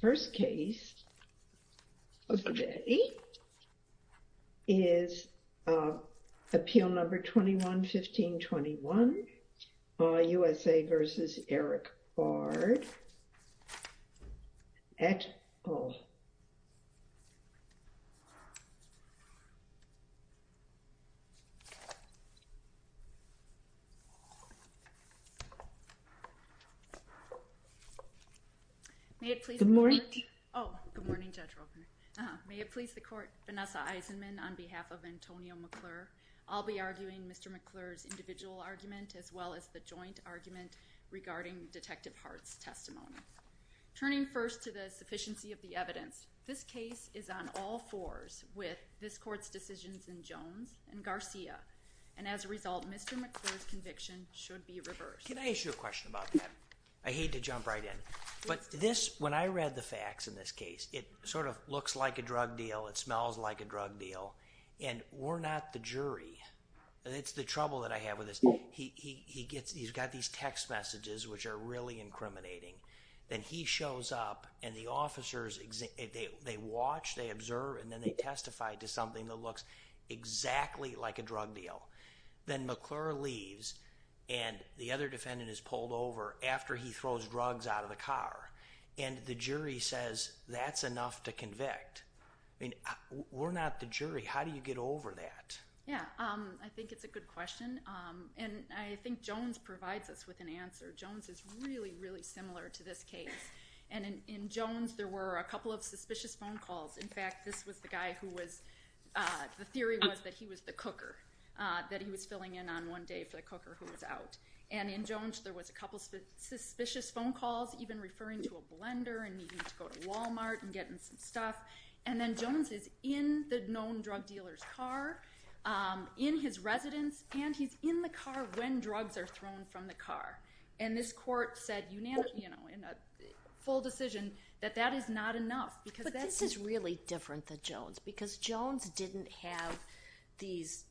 First case of the day is Appeal No. 21-1521, USA v. Eric Bard et al. May it please the court, Vanessa Eisenman, on behalf of Antonio McClure. I'll be arguing Mr. McClure's individual argument as well as the joint argument regarding Detective Hart's testimony. Turning first to the sufficiency of the evidence, this case is on all fours with this court's decisions in Jones and Garcia, and as a result, Mr. McClure's conviction should be reversed. Can I ask you a question about that? I hate to jump right in, but when I read the facts in this case, it sort of looks like a drug deal, it smells like a drug deal, and we're not the jury. It's the trouble that I have with this. He's got these text messages which are really incriminating. Then he shows up, and the officers, they watch, they observe, and then they testify to something that looks exactly like a drug deal. Then McClure leaves, and the other defendant is pulled over after he throws drugs out of the car, and the jury says that's enough to convict. I mean, we're not the jury. How do you get over that? Yeah, I think it's a good question, and I think Jones provides us with an answer. Jones is really, really similar to this case, and in Jones, there were a couple of suspicious phone calls. In fact, this was the guy who was, the theory was that he was the cooker, that he was filling in on one day for the cooker who was out. In Jones, there was a couple of suspicious phone calls, even referring to a blender and needing to go to Walmart and getting some stuff. Then Jones is in the known drug dealer's car, in his residence, and he's in the car when drugs are thrown from the car. This court said in a full decision that that is not enough. But this is really different than Jones, because Jones didn't have these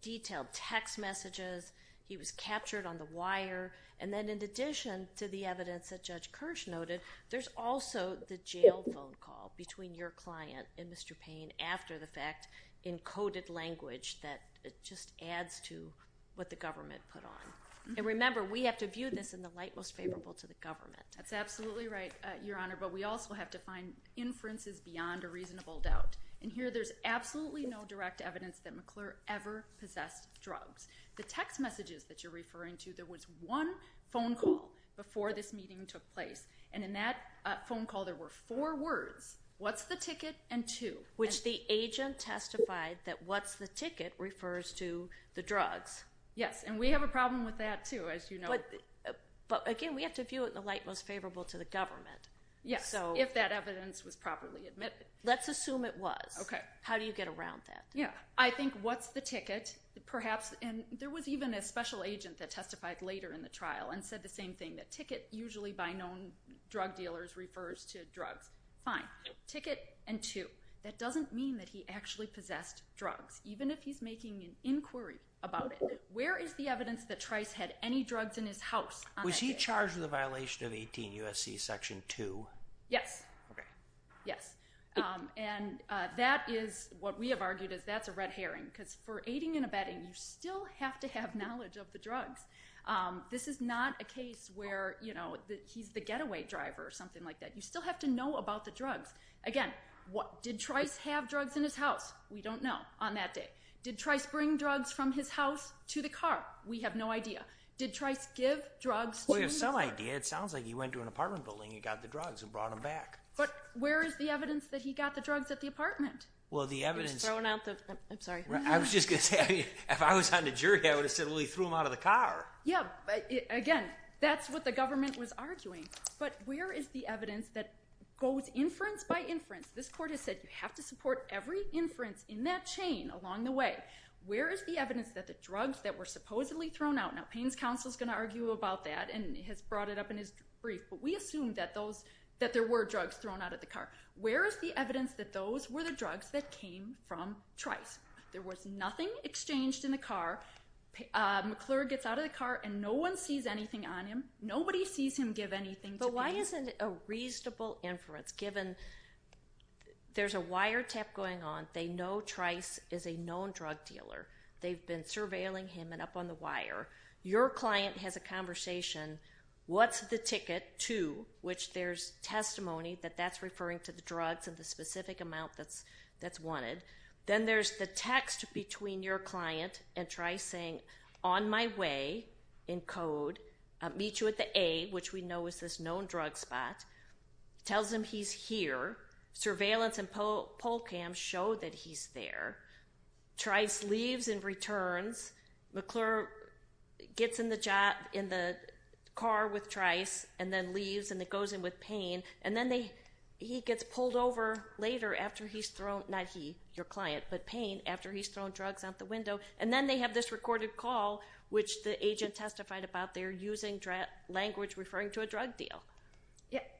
detailed text messages. He was captured on the wire, and then in addition to the evidence that Judge Kirsch noted, there's also the jail phone call between your client and Mr. Payne after the fact in coded language that just adds to what the government put on. And remember, we have to view this in the light most favorable to the government. That's absolutely right, Your Honor, but we also have to find inferences beyond a reasonable doubt. And here, there's absolutely no direct evidence that McClure ever possessed drugs. The text messages that you're referring to, there was one phone call before this meeting took place, and in that phone call, there were four words, what's the ticket, and two. Which the agent testified that what's the ticket refers to the drugs. Yes, and we have a problem with that, too, as you know. But again, we have to view it in the light most favorable to the government. Yes, if that evidence was properly admitted. Let's assume it was. Okay. How do you get around that? I think what's the ticket, perhaps, and there was even a special agent that testified later in the trial and said the same thing, that ticket usually by known drug dealers refers to drugs. Fine. Ticket and two. That doesn't mean that he actually possessed drugs, even if he's making an inquiry about it. Where is the evidence that Trice had any drugs in his house on that day? Was he charged with a violation of 18 U.S.C. Section 2? Yes. Okay. Yes. And that is what we have argued is that's a red herring, because for aiding and abetting, you still have to have knowledge of the drugs. This is not a case where, you know, he's the getaway driver or something like that. You still have to know about the drugs. Again, did Trice have drugs in his house? We don't know on that day. Did Trice bring drugs from his house to the car? We have no idea. Did Trice give drugs to the car? Well, we have some idea. It sounds like he went to an apartment building and got the drugs and brought them back. But where is the evidence that he got the drugs at the apartment? Well, the evidence – He was throwing out the – I'm sorry. I was just going to say, if I was on the jury, I would have said, well, he threw them out of the car. Yeah. Again, that's what the government was arguing. But where is the evidence that goes inference by inference? This court has said you have to support every inference in that chain along the way. Where is the evidence that the drugs that were supposedly thrown out – now Payne's counsel is going to argue about that and has brought it up in his brief. But we assume that those – that there were drugs thrown out of the car. Where is the evidence that those were the drugs that came from Trice? There was nothing exchanged in the car. McClure gets out of the car and no one sees anything on him. Nobody sees him give anything to Payne. Why isn't a reasonable inference given there's a wiretap going on. They know Trice is a known drug dealer. They've been surveilling him and up on the wire. Your client has a conversation. What's the ticket to, which there's testimony that that's referring to the drugs and the specific amount that's wanted. Then there's the text between your client and Trice saying, on my way, in code, meet you at the A, which we know is this known drug spot. Tells him he's here. Surveillance and poll cams show that he's there. Trice leaves and returns. McClure gets in the car with Trice and then leaves and goes in with Payne. And then he gets pulled over later after he's thrown – not he, your client, but Payne – after he's thrown drugs out the window. And then they have this recorded call, which the agent testified about. They're using language referring to a drug deal.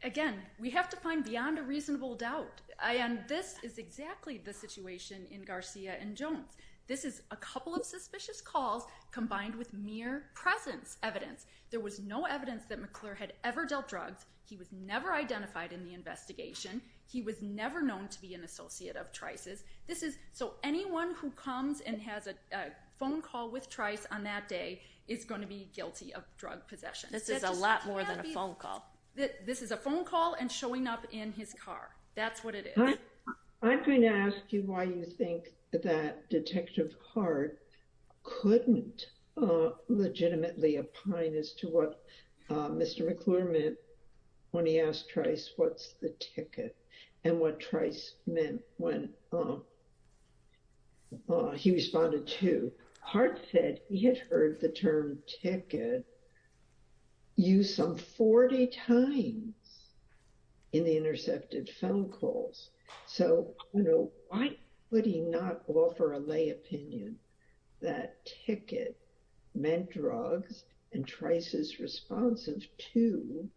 Again, we have to find beyond a reasonable doubt. And this is exactly the situation in Garcia and Jones. This is a couple of suspicious calls combined with mere presence evidence. There was no evidence that McClure had ever dealt drugs. He was never identified in the investigation. He was never known to be an associate of Trice's. So anyone who comes and has a phone call with Trice on that day is going to be guilty of drug possession. This is a lot more than a phone call. This is a phone call and showing up in his car. That's what it is. I'm going to ask you why you think that Detective Hart couldn't legitimately opine as to what Mr. McClure meant when he asked Trice, what's the ticket, and what Trice meant when he responded to. Hart said he had heard the term ticket used some 40 times in the intercepted phone calls. So why would he not offer a lay opinion that ticket meant drugs and Trice's response of two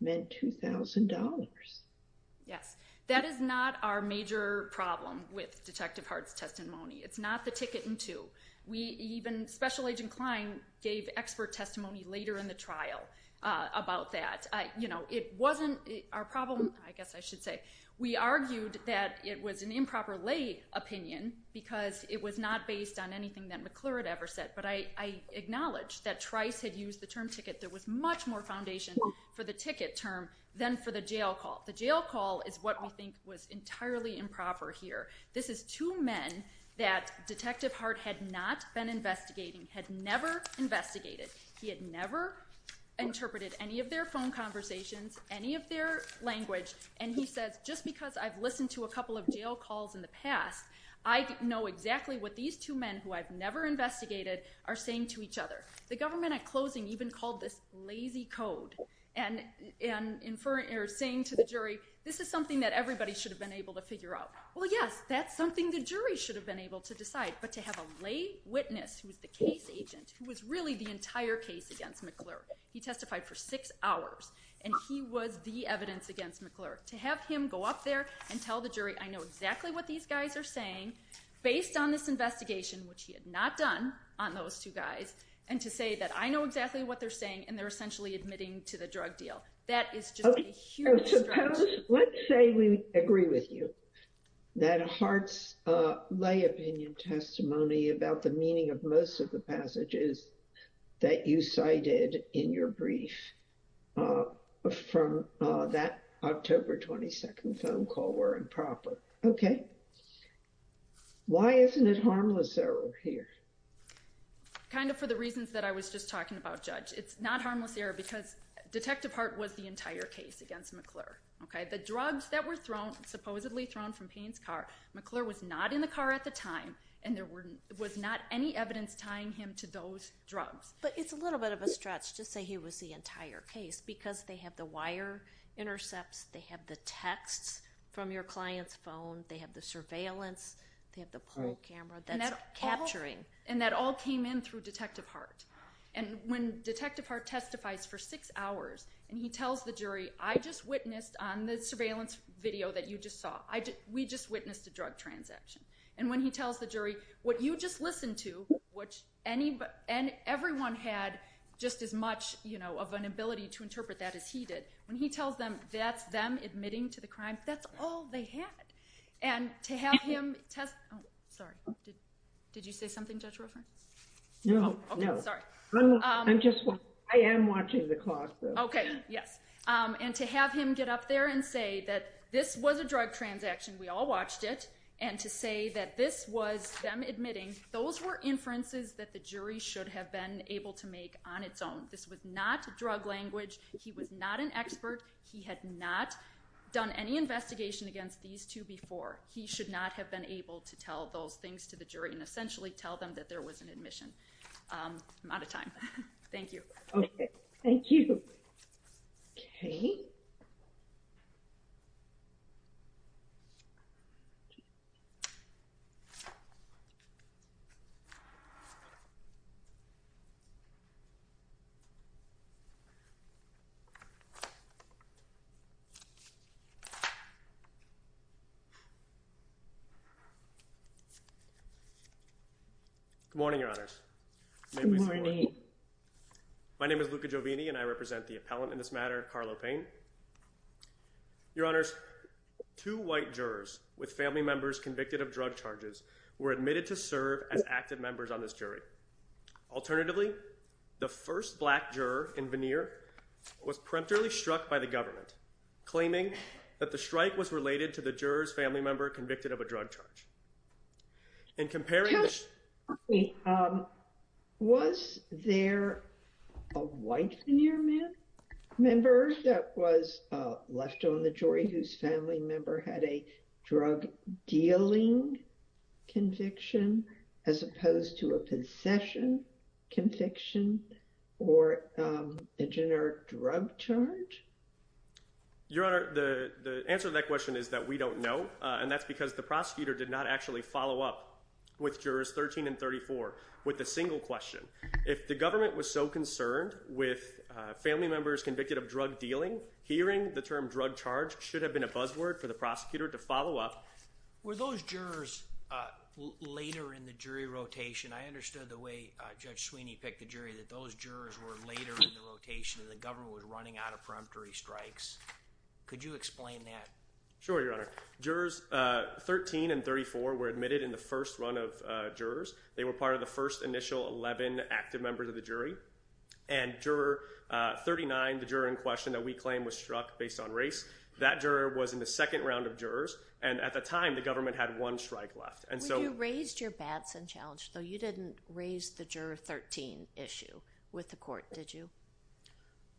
meant $2,000? Yes. That is not our major problem with Detective Hart's testimony. It's not the ticket and two. Even Special Agent Klein gave expert testimony later in the trial about that. It wasn't our problem, I guess I should say. We argued that it was an improper lay opinion because it was not based on anything that McClure had ever said. But I acknowledge that Trice had used the term ticket. There was much more foundation for the ticket term than for the jail call. The jail call is what we think was entirely improper here. This is two men that Detective Hart had not been investigating, had never investigated. He had never interpreted any of their phone conversations, any of their language, and he says, just because I've listened to a couple of jail calls in the past, I know exactly what these two men who I've never investigated are saying to each other. The government at closing even called this lazy code and saying to the jury, this is something that everybody should have been able to figure out. Well, yes, that's something the jury should have been able to decide. But to have a lay witness who was the case agent, who was really the entire case against McClure, he testified for six hours, and he was the evidence against McClure. To have him go up there and tell the jury, I know exactly what these guys are saying, based on this investigation, which he had not done on those two guys, and to say that I know exactly what they're saying, and they're essentially admitting to the drug deal. That is just a huge stretch. Let's say we agree with you that Hart's lay opinion testimony about the meaning of most of the passages that you cited in your brief from that October 22nd phone call were improper. Why isn't it harmless error here? Kind of for the reasons that I was just talking about, Judge. It's not harmless error because Detective Hart was the entire case against McClure. The drugs that were supposedly thrown from Payne's car, McClure was not in the car at the time, and there was not any evidence tying him to those drugs. But it's a little bit of a stretch to say he was the entire case, because they have the wire intercepts. They have the texts from your client's phone. They have the surveillance. They have the poll camera. That's capturing. And that all came in through Detective Hart. And when Detective Hart testifies for six hours and he tells the jury, I just witnessed on the surveillance video that you just saw, we just witnessed a drug transaction. And when he tells the jury, what you just listened to, and everyone had just as much of an ability to interpret that as he did. When he tells them that's them admitting to the crime, that's all they had. And to have him test... Oh, sorry. Did you say something, Judge Ruffin? No, no. Okay, sorry. I'm just... I am watching the clock, though. Okay, yes. And to have him get up there and say that this was a drug transaction, we all watched it, and to say that this was them admitting, those were inferences that the jury should have been able to make on its own. This was not drug language. He was not an expert. He had not done any investigation against these two before. He should not have been able to tell those things to the jury and essentially tell them that there was an admission. I'm out of time. Thank you. Okay. Thank you. Okay. Thank you. Good morning, Your Honors. Good morning. My name is Luca Jovini, and I represent the appellant in this matter, Carlo Payne. Your Honors, two white jurors with family members convicted of drug charges were admitted to serve as active members on this jury. Alternatively, the first black juror in veneer was preemptively struck by the government, claiming that the strike was related to the juror's family member convicted of a drug charge. In comparing... Was there a white veneer member that was left on the jury whose family member had a drug dealing conviction as opposed to a possession conviction or a generic drug charge? Your Honor, the answer to that question is that we don't know, and that's because the prosecutor did not actually follow up with jurors 13 and 34 with a single question. If the government was so concerned with family members convicted of drug dealing, hearing the term drug charge should have been a buzzword for the prosecutor to follow up. Were those jurors later in the jury rotation? I understood the way Judge Sweeney picked the jury, that those jurors were later in the rotation and the government was running out of preemptory strikes. Could you explain that? Sure, Your Honor. Jurors 13 and 34 were admitted in the first run of jurors. They were part of the first initial 11 active members of the jury. And juror 39, the juror in question that we claim was struck based on race, that juror was in the second round of jurors. And at the time, the government had one strike left. When you raised your Batson challenge, though, you didn't raise the juror 13 issue with the court, did you?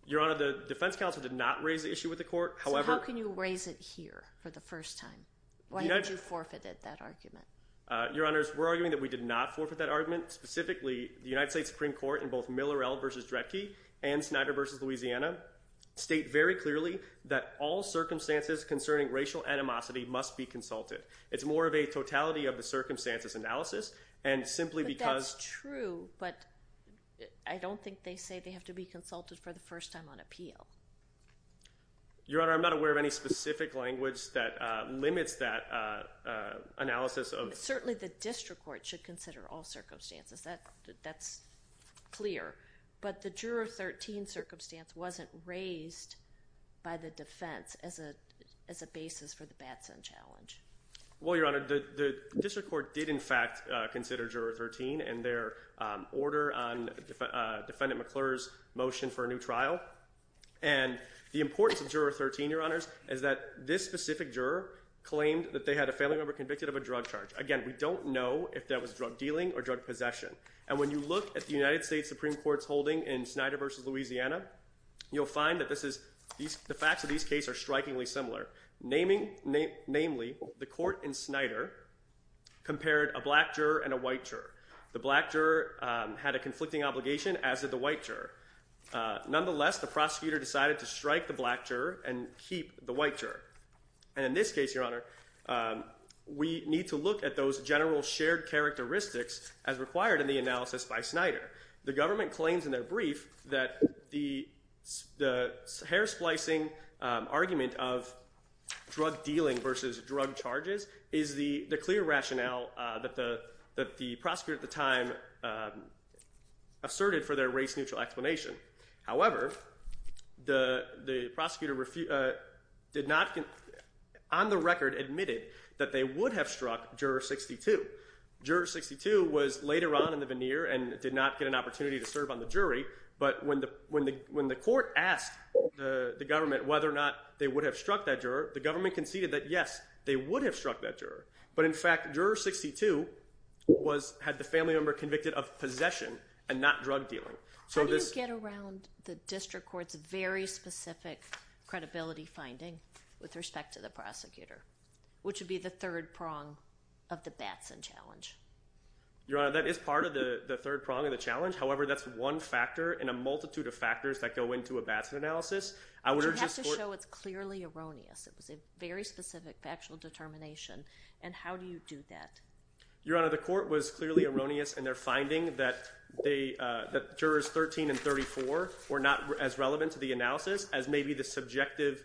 Your Honor, the defense counsel did not raise the issue with the court. So how can you raise it here for the first time? Why did you forfeit that argument? Your Honor, we're arguing that we did not forfeit that argument. Specifically, the United States Supreme Court in both Millerell v. Dredke and Snyder v. Louisiana state very clearly that all circumstances concerning racial animosity must be consulted. It's more of a totality of the circumstances analysis. But that's true, but I don't think they say they have to be consulted for the first time on appeal. Your Honor, I'm not aware of any specific language that limits that analysis. Certainly the district court should consider all circumstances. That's clear. But the juror 13 circumstance wasn't raised by the defense as a basis for the Batson challenge. Well, Your Honor, the district court did in fact consider juror 13 and their order on Defendant McClure's motion for a new trial. And the importance of juror 13, Your Honor, is that this specific juror claimed that they had a family member convicted of a drug charge. Again, we don't know if that was drug dealing or drug possession. And when you look at the United States Supreme Court's holding in Snyder v. Louisiana, you'll find that the facts of these cases are strikingly similar. Namely, the court in Snyder compared a black juror and a white juror. The black juror had a conflicting obligation, as did the white juror. Nonetheless, the prosecutor decided to strike the black juror and keep the white juror. And in this case, Your Honor, we need to look at those general shared characteristics as required in the analysis by Snyder. The government claims in their brief that the hair-splicing argument of drug dealing versus drug charges is the clear rationale that the prosecutor at the time asserted for their race-neutral explanation. However, the prosecutor on the record admitted that they would have struck juror 62. Juror 62 was later on in the veneer and did not get an opportunity to serve on the jury. But when the court asked the government whether or not they would have struck that juror, the government conceded that yes, they would have struck that juror. But in fact, juror 62 had the family member convicted of possession and not drug dealing. How do you get around the district court's very specific credibility finding with respect to the prosecutor, which would be the third prong of the Batson challenge? Your Honor, that is part of the third prong of the challenge. However, that's one factor in a multitude of factors that go into a Batson analysis. You have to show it's clearly erroneous. It was a very specific factual determination. And how do you do that? Your Honor, the court was clearly erroneous in their finding that jurors 13 and 34 were not as relevant to the analysis as maybe the subjective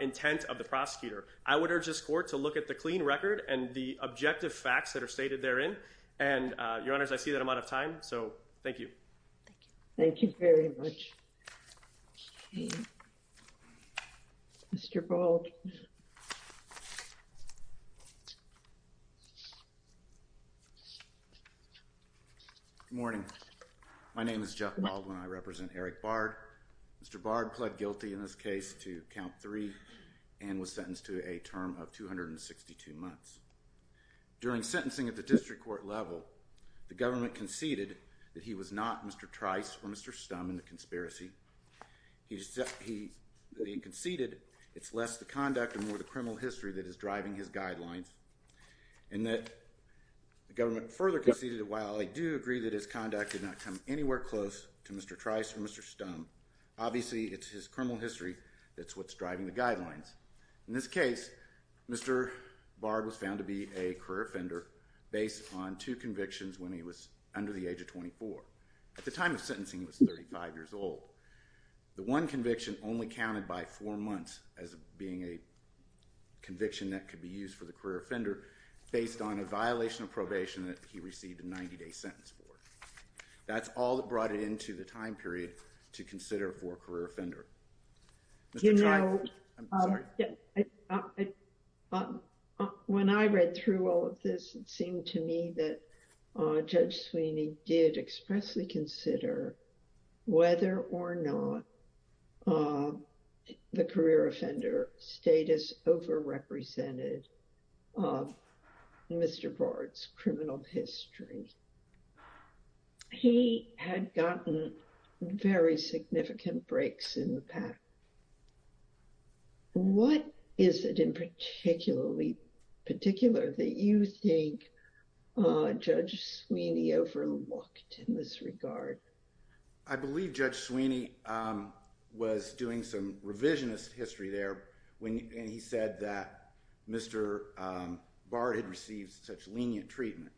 intent of the prosecutor. I would urge this court to look at the clean record and the objective facts that are stated therein. And, Your Honors, I see that I'm out of time, so thank you. Thank you very much. Okay. Mr. Baldwin. Good morning. My name is Jeff Baldwin. I represent Eric Bard. Mr. Bard pled guilty in this case to count three and was sentenced to a term of 262 months. During sentencing at the district court level, the government conceded that he was not Mr. Trice or Mr. Stum in the conspiracy. He conceded it's less the conduct and more the criminal history that is driving his guidelines. And that the government further conceded, while I do agree that his conduct did not come anywhere close to Mr. Trice or Mr. Stum, obviously it's his criminal history that's what's driving the guidelines. In this case, Mr. Bard was found to be a career offender based on two convictions when he was under the age of 24. At the time of sentencing, he was 35 years old. The one conviction only counted by four months as being a conviction that could be used for the career offender based on a violation of probation that he received a 90-day sentence for. That's all that brought it into the time period to consider for a career offender. You know, when I read through all of this, it seemed to me that Judge Sweeney did expressly consider whether or not the career offender status overrepresented Mr. Bard's criminal history. He had gotten very significant breaks in the past. What is it in particular that you think Judge Sweeney overlooked in this regard? I believe Judge Sweeney was doing some revisionist history there when he said that Mr. Bard had received such lenient treatment.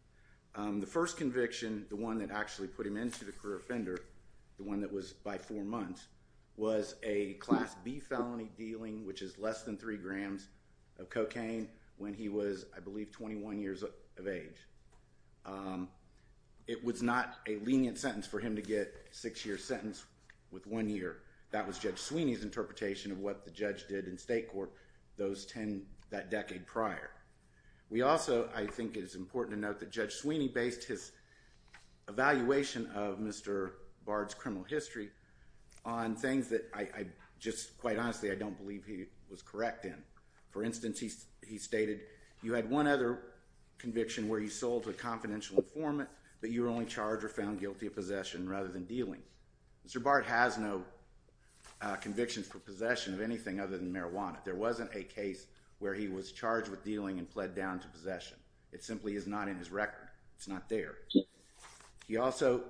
The first conviction, the one that actually put him into the career offender, the one that was by four months, was a Class B felony dealing which is less than three grams of cocaine when he was, I believe, 21 years of age. It was not a lenient sentence for him to get a six-year sentence with one year. That was Judge Sweeney's interpretation of what the judge did in state court that decade prior. We also, I think it's important to note that Judge Sweeney based his evaluation of Mr. Bard's criminal history on things that I just, quite honestly, I don't believe he was correct in. For instance, he stated you had one other conviction where he sold to a confidential informant, but you were only charged or found guilty of possession rather than dealing. Mr. Bard has no convictions for possession of anything other than marijuana. There wasn't a case where he was charged with dealing and pled down to possession. It simply is not in his record. It's not there. He also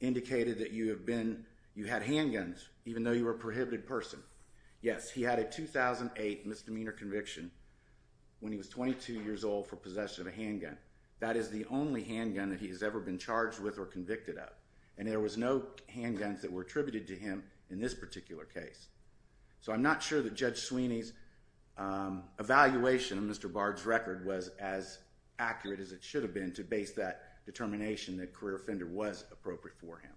indicated that you had handguns even though you were a prohibited person. Yes, he had a 2008 misdemeanor conviction when he was 22 years old for possession of a handgun. That is the only handgun that he has ever been charged with or convicted of, and there was no handguns that were attributed to him in this particular case. So I'm not sure that Judge Sweeney's evaluation of Mr. Bard's record was as accurate as it should have been to base that determination that career offender was appropriate for him.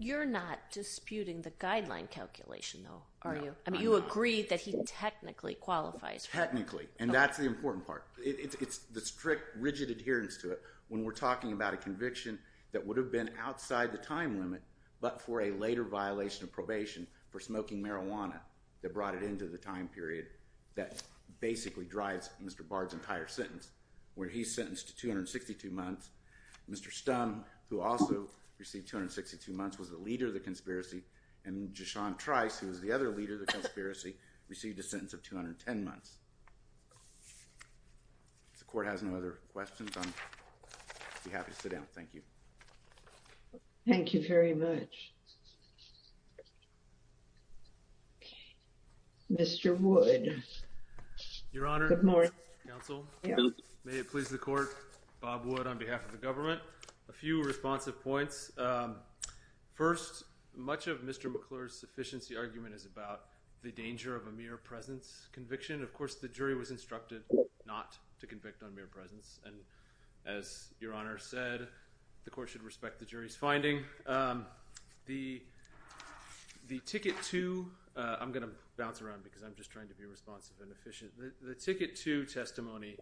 You're not disputing the guideline calculation, though, are you? No, I'm not. You agree that he technically qualifies for it. Technically, and that's the important part. It's the strict, rigid adherence to it when we're talking about a conviction that would have been outside the time limit but for a later violation of probation for smoking marijuana that brought it into the time period that basically drives Mr. Bard's entire sentence, where he's sentenced to 262 months. Mr. Stum, who also received 262 months, was the leader of the conspiracy, and Jashon Trice, who was the other leader of the conspiracy, received a sentence of 210 months. If the Court has no other questions, I'll be happy to sit down. Thank you. Thank you very much. Mr. Wood. Your Honor. Good morning. Counsel. May it please the Court. Bob Wood on behalf of the government. A few responsive points. First, much of Mr. McClure's sufficiency argument is about the danger of a mere presence conviction. Of course, the jury was instructed not to convict on mere presence, and as Your Honor said, the Court should respect the jury's finding. The Ticket 2—I'm going to bounce around because I'm just trying to be responsive and efficient. The Ticket 2 testimony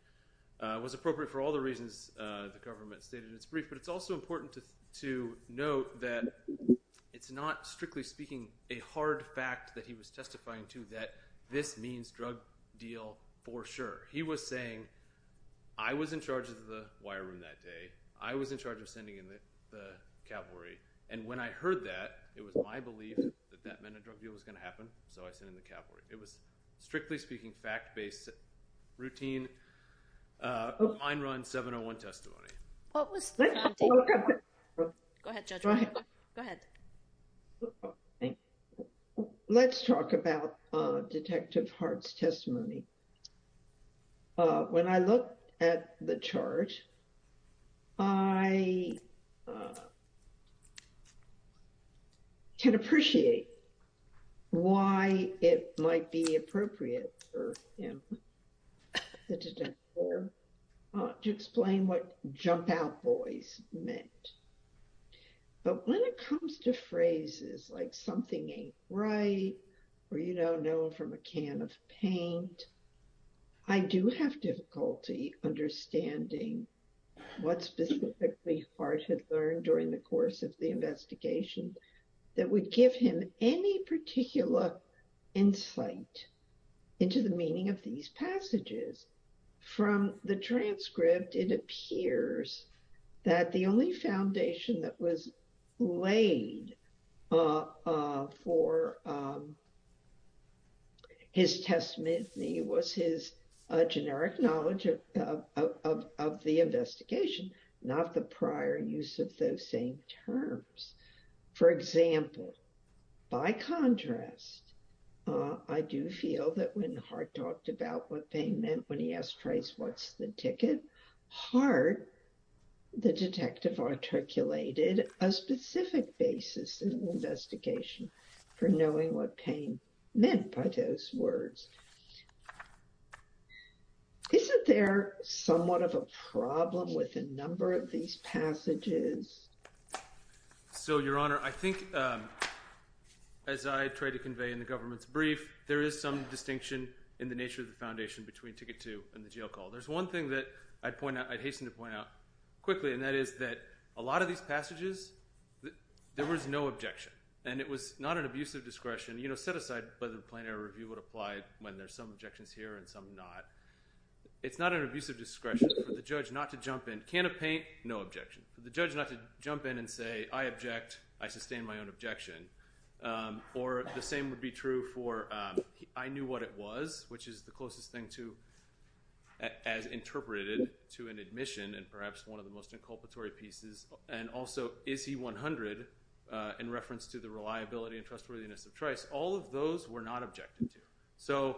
was appropriate for all the reasons the government stated in its brief, but it's also important to note that it's not, strictly speaking, a hard fact that he was testifying to that this means drug deal for sure. He was saying, I was in charge of the wire room that day. I was in charge of sending in the cavalry, and when I heard that, it was my belief that that meant a drug deal was going to happen, so I sent in the cavalry. It was, strictly speaking, fact-based, routine, mine run, 701 testimony. What was the— Go ahead, Judge. Go ahead. Thank you. Let's talk about Detective Hart's testimony. When I look at the chart, I can appreciate why it might be appropriate for him, the detective, to explain what jump out boys meant, but when it comes to phrases like something ain't right or you don't know from a can of paint, I do have difficulty understanding what specifically Hart had learned during the course of the investigation that would give him any particular insight into the meaning of these passages. From the transcript, it appears that the only foundation that was laid for his testimony was his generic knowledge of the investigation, not the prior use of those same terms. For example, by contrast, I do feel that when Hart talked about what pain meant, when he asked Trace, what's the ticket? Hart, the detective, articulated a specific basis in the investigation for knowing what pain meant by those words. Isn't there somewhat of a problem with a number of these passages? So, Your Honor, I think as I tried to convey in the government's brief, there is some distinction in the nature of the foundation between Ticket 2 and the jail call. There's one thing that I'd point out, I'd hasten to point out quickly, and that is that a lot of these passages, there was no objection, and it was not an abusive discretion. You know, set aside whether the plain error review would apply when there's some objections here and some not. It's not an abusive discretion for the judge not to jump in. A can of paint, no objection. For the judge not to jump in and say, I object, I sustain my own objection. Or the same would be true for, I knew what it was, which is the closest thing as interpreted to an admission and perhaps one of the most inculpatory pieces. And also, is he 100 in reference to the reliability and trustworthiness of Trace? All of those were not objected to. So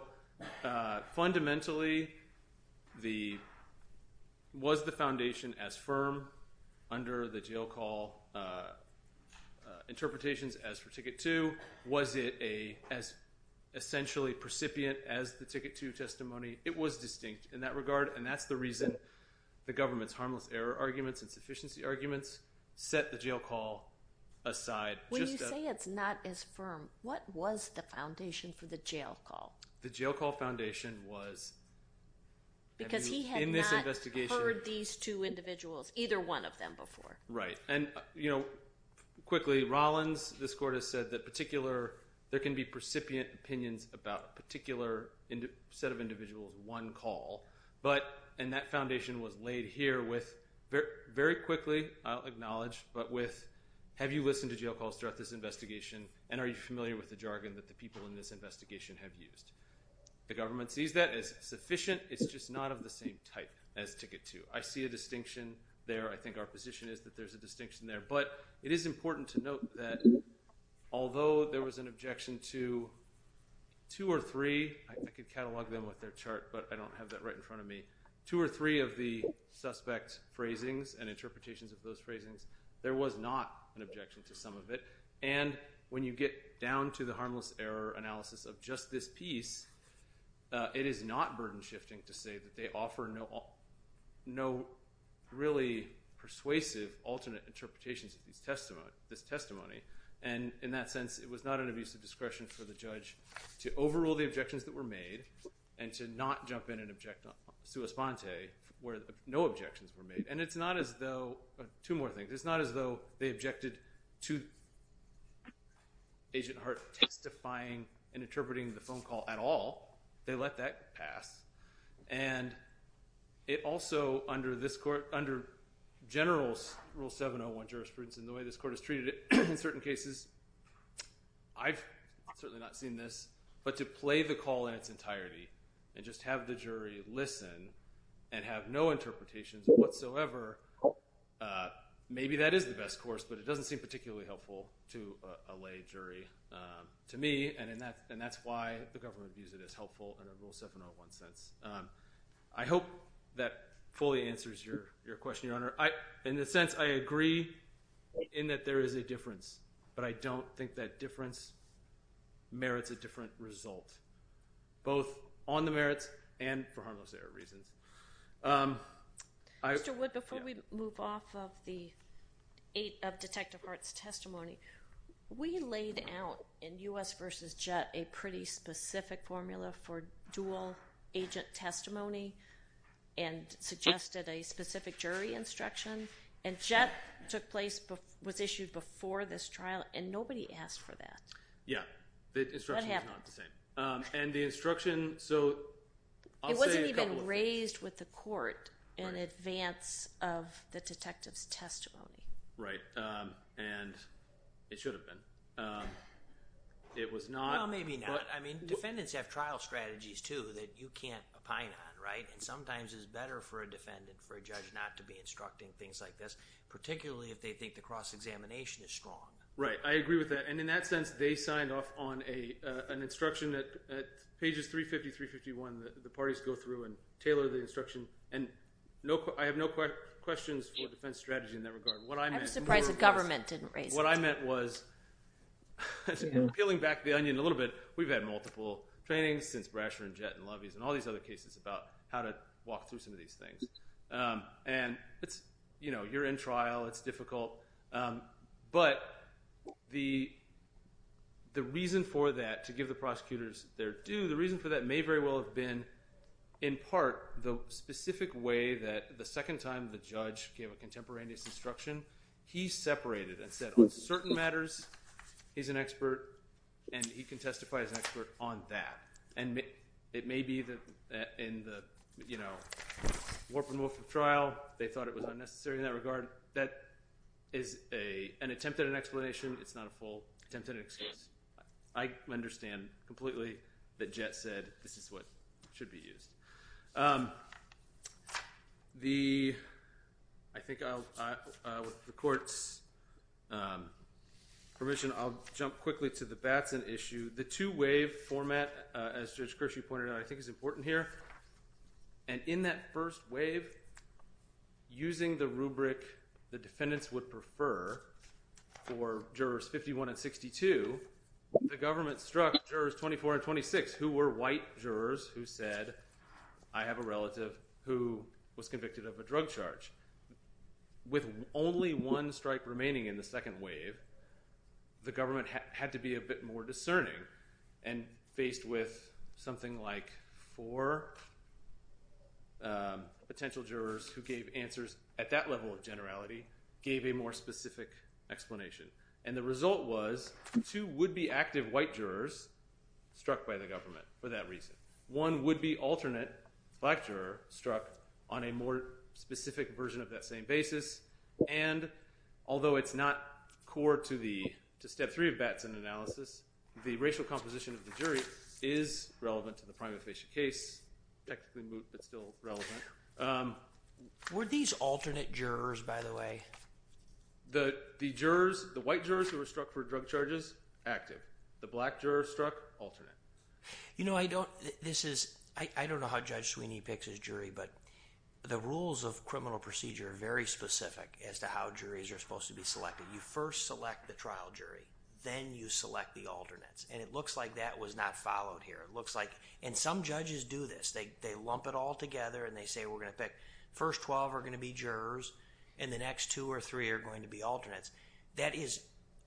fundamentally, was the foundation as firm under the jail call interpretations as for Ticket 2? Was it as essentially precipient as the Ticket 2 testimony? It was distinct in that regard, and that's the reason the government's harmless error arguments and sufficiency arguments set the jail call aside. When you say it's not as firm, what was the foundation for the jail call? The jail call foundation was in this investigation. Because he had not heard these two individuals, either one of them, before. Right. And, you know, quickly, Rollins, this court has said that particular, there can be precipient opinions about a particular set of individuals, one call, and that foundation was laid here with, very quickly, I'll acknowledge, but with, have you listened to jail calls throughout this investigation and are you familiar with the jargon that the people in this investigation have used? The government sees that as sufficient. It's just not of the same type as Ticket 2. I see a distinction there. I think our position is that there's a distinction there. But it is important to note that although there was an objection to two or three, I could catalog them with their chart, but I don't have that right in front of me, two or three of the suspect's phrasings and interpretations of those phrasings, there was not an objection to some of it. And when you get down to the harmless error analysis of just this piece, it is not burden shifting to say that they offer no really persuasive alternate interpretations of this testimony. And in that sense, it was not an abuse of discretion for the judge to overrule the objections that were made and to not jump in and object to a sponte where no objections were made. And it's not as though, two more things. It's not as though they objected to Agent Hart testifying and interpreting the phone call at all. They let that pass. And it also, under this court, under general rule 701 jurisprudence and the way this court has treated it in certain cases, I've certainly not seen this, but to play the call in its entirety and just have the jury listen and have no interpretations whatsoever, maybe that is the best course, but it doesn't seem particularly helpful to a lay jury to me. And that's why the government views it as helpful under rule 701 sense. I hope that fully answers your question, Your Honor. In a sense, I agree in that there is a difference, but I don't think that difference merits a different result, both on the merits and for harmless error reasons. Mr. Wood, before we move off of Detective Hart's testimony, we laid out in U.S. v. Jett a pretty specific formula for dual agent testimony and suggested a specific jury instruction. And Jett took place, was issued before this trial, and nobody asked for that. Yeah. The instruction was not the same. What happened? And the instruction, so I'll say a couple of things. It wasn't even raised with the court in advance of the detective's testimony. Right. And it should have been. It was not. Well, maybe not. I mean, defendants have trial strategies too that you can't opine on, right? And sometimes it's better for a defendant, for a judge, not to be instructing things like this, particularly if they think the cross-examination is strong. Right. I agree with that. And in that sense, they signed off on an instruction at pages 350, 351. The parties go through and tailor the instruction. And I have no questions for defense strategy in that regard. I'm surprised the government didn't raise it. What I meant was, peeling back the onion a little bit, we've had multiple trainings since Brasher and Jett and Lovies and all these other cases about how to walk through some of these things. And it's, you know, you're in trial. It's difficult. But the reason for that, to give the prosecutors their due, the reason for that may very well have been in part the specific way that the second time the judge gave a contemporaneous instruction, he separated and said on certain matters he's an expert and he can testify as an expert on that. And it may be that in the, you know, Warp and Wolf of trial, they thought it was unnecessary in that regard. That is an attempt at an explanation. It's not a full attempt at an excuse. I understand completely that Jett said this is what should be used. I think with the court's permission, I'll jump quickly to the Batson issue. The two-wave format, as Judge Kershaw pointed out, I think is important here. And in that first wave, using the rubric the defendants would prefer for jurors 51 and 62, the government struck jurors 24 and 26, who were white jurors who said I have a relative who was convicted of a drug charge. With only one strike remaining in the second wave, the government had to be a bit more discerning and faced with something like four potential jurors who gave answers at that level of generality, gave a more specific explanation. And the result was two would-be active white jurors struck by the government for that reason. One would-be alternate black juror struck on a more specific version of that same basis. And although it's not core to step three of Batson analysis, the racial composition of the jury is relevant to the prima facie case, technically moot but still relevant. Were these alternate jurors, by the way? The white jurors who were struck for drug charges, active. The black juror struck, alternate. You know, I don't know how Judge Sweeney picks his jury, but the rules of criminal procedure are very specific as to how juries are supposed to be selected. You first select the trial jury. Then you select the alternates. And it looks like that was not followed here. It looks like, and some judges do this. They lump it all together and they say we're going to pick, first 12 are going to be jurors, and the next two or three are going to be alternates. That is,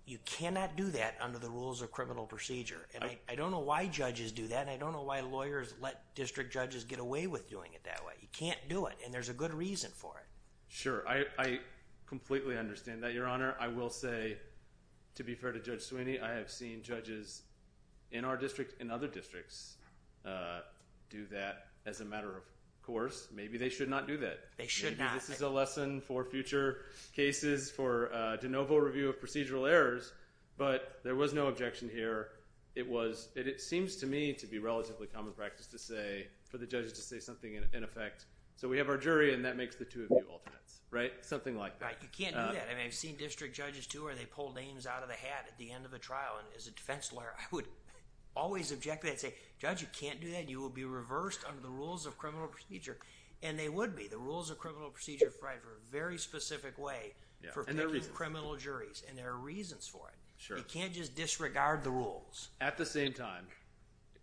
you cannot do that under the rules of criminal procedure. And I don't know why judges do that and I don't know why lawyers let district judges get away with doing it that way. You can't do it, and there's a good reason for it. Sure. I completely understand that, Your Honor. I will say, to be fair to Judge Sweeney, I have seen judges in our district and other districts do that as a matter of course. Maybe they should not do that. They should not. Maybe this is a lesson for future cases for de novo review of procedural errors, but there was no objection here. It seems to me to be relatively common practice for the judges to say something in effect, so we have our jury and that makes the two of you alternates. Something like that. You can't do that. I've seen district judges, too, where they pull names out of the hat at the end of a trial, and as a defense lawyer, I would always object to that and say, Judge, you can't do that. You will be reversed under the rules of criminal procedure. And they would be. The rules of criminal procedure apply for a very specific way for picking criminal juries, and there are reasons for it. You can't just disregard the rules. At the same time,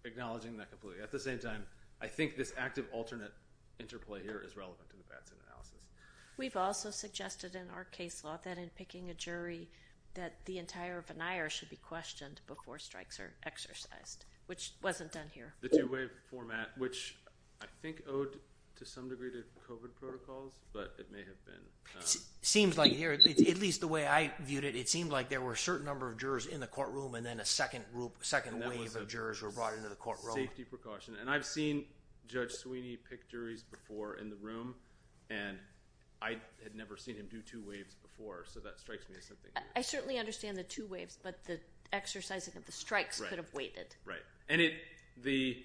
acknowledging that completely, at the same time, I think this active alternate interplay here is relevant to the Batson analysis. We've also suggested in our case law that in picking a jury that the entire veneer should be questioned before strikes are exercised, which wasn't done here. The two-way format, which I think owed to some degree to COVID protocols, but it may have been. Seems like here, at least the way I viewed it, it seemed like there were a certain number of jurors in the courtroom, and then a second wave of jurors were brought into the courtroom. Safety precaution. And I've seen Judge Sweeney pick juries before in the room, and I had never seen him do two waves before, so that strikes me as something new. I certainly understand the two waves, but the exercising of the strikes could have waited. Right. And the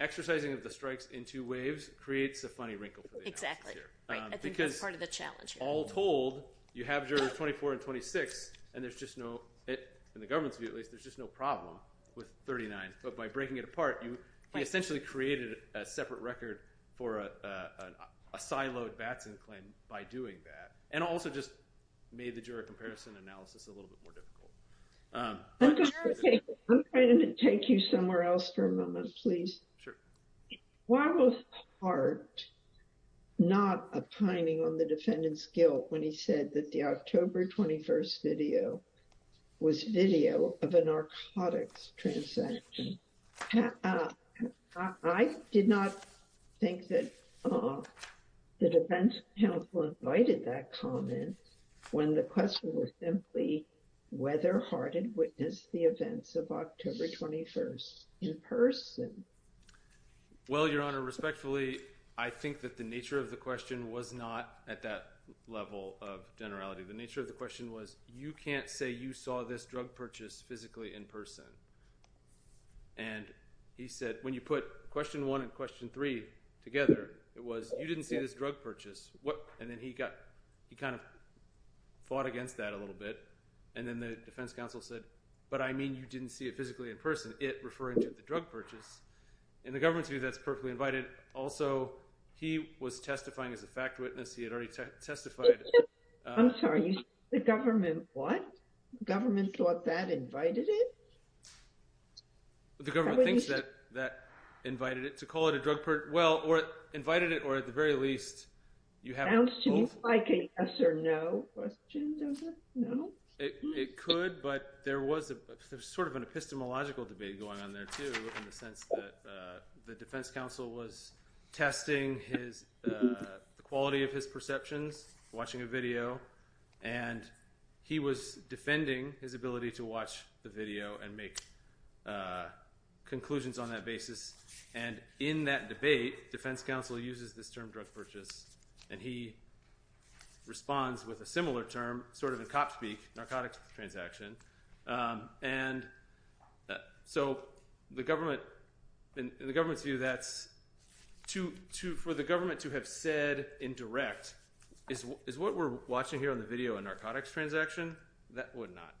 exercising of the strikes in two waves creates a funny wrinkle for the analysis here. Exactly, right. I think that's part of the challenge here. All told, you have jurors 24 and 26, and there's just no, in the government's view at least, there's just no problem with 39. But by breaking it apart, you essentially created a separate record for a siloed Batson claim by doing that. And also just made the juror comparison analysis a little bit more difficult. I'm going to take you somewhere else for a moment, please. Sure. Why was Hart not opining on the defendant's guilt when he said that the October 21st video was video of a narcotics transaction? I did not think that the defense counsel invited that comment when the question was simply whether Hart had witnessed the events of October 21st in person. Well, Your Honor, respectfully, I think that the nature of the question was not at that level of generality. The nature of the question was, you can't say you saw this drug purchase physically in person. And he said, when you put question one and question three together, it was, you didn't see this drug purchase. And then he kind of fought against that a little bit. And then the defense counsel said, but I mean you didn't see it physically in person. Was it referring to the drug purchase? In the government's view, that's perfectly invited. Also, he was testifying as a fact witness. He had already testified. I'm sorry. The government what? The government thought that invited it? The government thinks that that invited it, to call it a drug purchase. Well, or invited it, or at the very least, you have both. Sounds to me like a yes or no question, doesn't it? No? It could. But there was sort of an epistemological debate going on there, too, in the sense that the defense counsel was testing the quality of his perceptions, watching a video. And he was defending his ability to watch the video and make conclusions on that basis. And in that debate, defense counsel uses this term, drug purchase. And he responds with a similar term, sort of in cop speak, narcotics transaction. And so in the government's view, for the government to have said in direct, is what we're watching here on the video a narcotics transaction? That would not.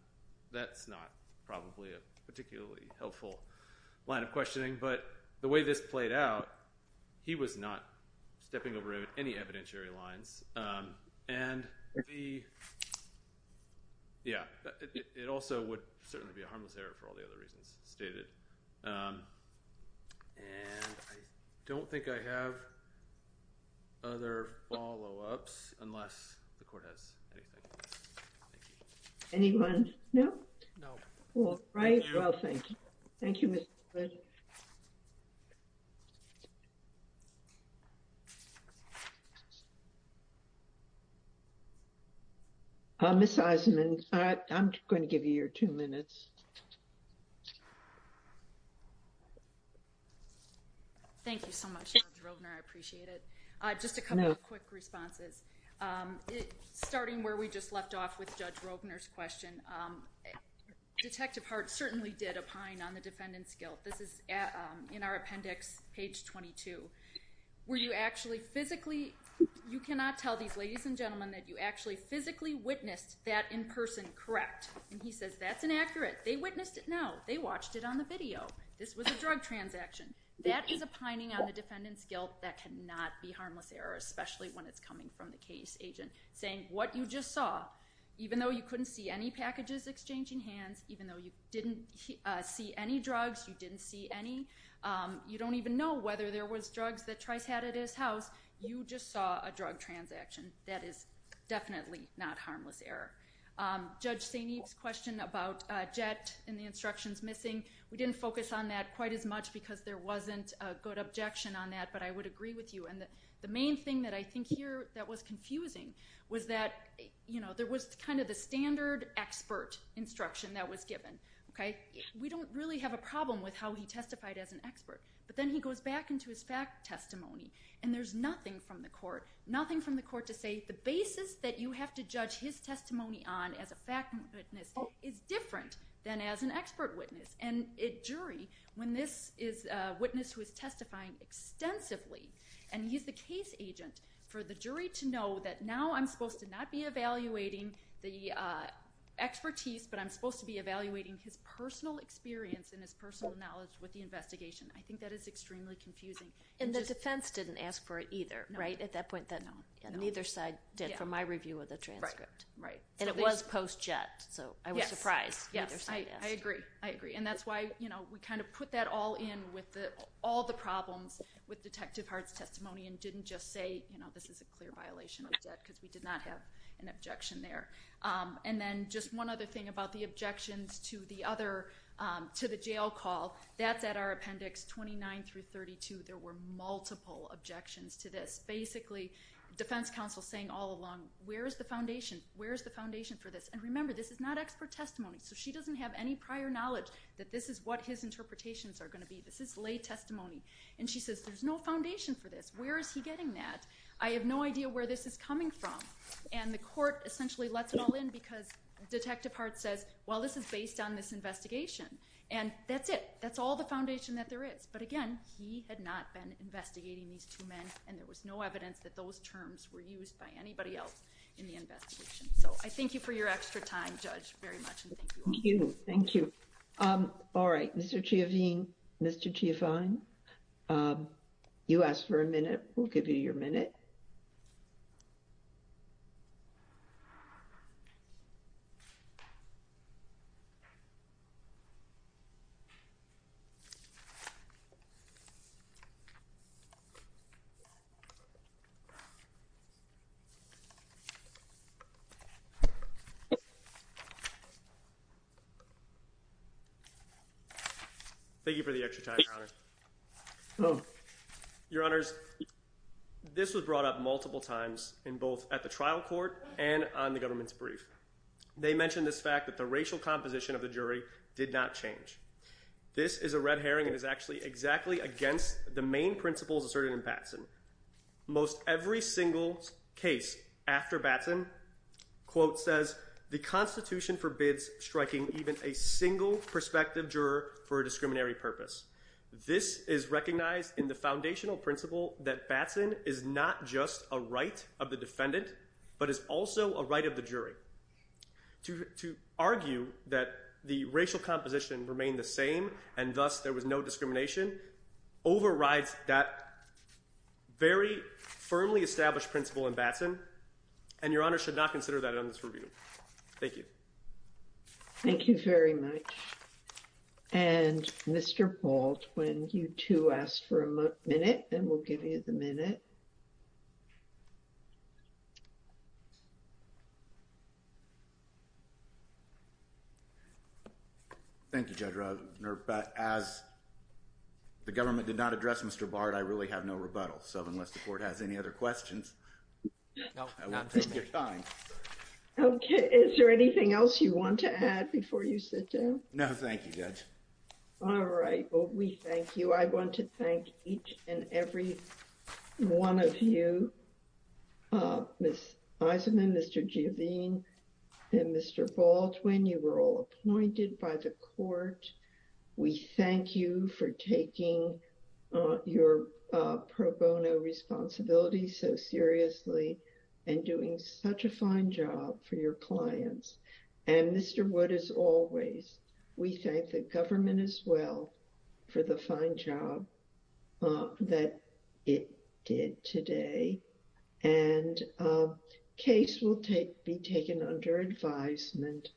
That's not probably a particularly helpful line of questioning. But the way this played out, he was not stepping over any evidentiary lines. And yeah, it also would certainly be a harmless error for all the other reasons stated. And I don't think I have other follow-ups, unless the court has anything. Anyone? No? No. All right. Well, thank you. Thank you, Mr. President. Ms. Eisenman, I'm going to give you your two minutes. Thank you so much, Judge Rovner. I appreciate it. Just a couple of quick responses. Starting where we just left off with Judge Rovner's question, Detective Hart certainly did opine on the defendant's guilt. This is in our appendix, page 22, where you actually physically, you cannot tell these ladies and gentlemen that you actually physically witnessed that in person correct. And he says, that's inaccurate. They witnessed it now. They watched it on the video. This was a drug transaction. That is opining on the defendant's guilt. That cannot be harmless error, especially when it's coming from the case agent, saying what you just saw, even though you couldn't see any packages exchanging hands, even though you didn't see any drugs, you didn't see any, you don't even know whether there was drugs that Trice had at his house, you just saw a drug transaction. That is definitely not harmless error. Judge St. Eve's question about Jett and the instructions missing, we didn't focus on that quite as much because there wasn't a good objection on that. But I would agree with you. And the main thing that I think here that was confusing was that there was kind of the standard expert instruction that was given. We don't really have a problem with how he testified as an expert. But then he goes back into his fact testimony. And there's nothing from the court, nothing from the court to say the basis that you have to judge his testimony on as a fact witness is different than as an expert witness. And a jury, when this is a witness who is testifying extensively and he's the case agent, for the jury to know that now I'm supposed to not be evaluating the expertise, but I'm supposed to be evaluating his personal experience and his personal knowledge with the investigation. I think that is extremely confusing. And the defense didn't ask for it either, right, at that point? No. And neither side did for my review of the transcript. Right. And it was post-Jett. So I was surprised neither side asked. Yes, I agree. I agree. And that's why we kind of put that all in with all the problems with Detective Hart's testimony and didn't just say, you know, this is a clear violation of Jett because we did not have an objection there. And then just one other thing about the objections to the jail call, that's at our appendix 29 through 32. There were multiple objections to this. Basically, defense counsel saying all along, where is the foundation? Where is the foundation for this? And remember, this is not expert testimony, so she doesn't have any prior knowledge that this is what his interpretations are going to be. This is lay testimony. And she says, there's no foundation for this. Where is he getting that? I have no idea where this is coming from. And the court essentially lets it all in because Detective Hart says, well, this is based on this investigation. And that's it. That's all the foundation that there is. But again, he had not been investigating these two men, and there was no evidence that those terms were used by anybody else in the investigation. So I thank you for your extra time, Judge, very much. And thank you all. Thank you. All right. Mr. Chiavine, you asked for a minute. We'll give you your minute. Thank you for the extra time, Your Honor. Your Honors, this was brought up multiple times in both at the trial court and on the government's brief. They mentioned this fact that the racial composition of the jury did not change. It was brought up in both the trial court and on the government's brief. And it's exactly against the main principles asserted in Batson. Most every single case after Batson, quote, says the Constitution forbids striking even a single prospective juror for a discriminatory purpose. This is recognized in the foundational principle that Batson is not just a right of the defendant, but is also a right of the jury. To argue that the racial composition remained the same, and thus there was no discrimination, overrides that very firmly established principle in Batson. And Your Honor should not consider that in this review. Thank you. Thank you very much. And Mr. Bolt, when you two asked for a minute, and we'll give you the minute. Thank you, Judge. As the government did not address Mr. Bard, I really have no rebuttal. So unless the court has any other questions. Nope. Okay. Is there anything else you want to add before you sit down? No, thank you, Judge. All right. And I'm going to turn it over to Mr. Wood. One of you. Ms. Eisenman, Mr. Geovine. And Mr. Baldwin, you were all appointed by the court. We thank you for taking. Your pro bono responsibility so seriously. And doing such a fine job for your clients. And Mr. Wood is always. We thank the government as well. For the fine job. That it did today. And case will take be taken under advisement.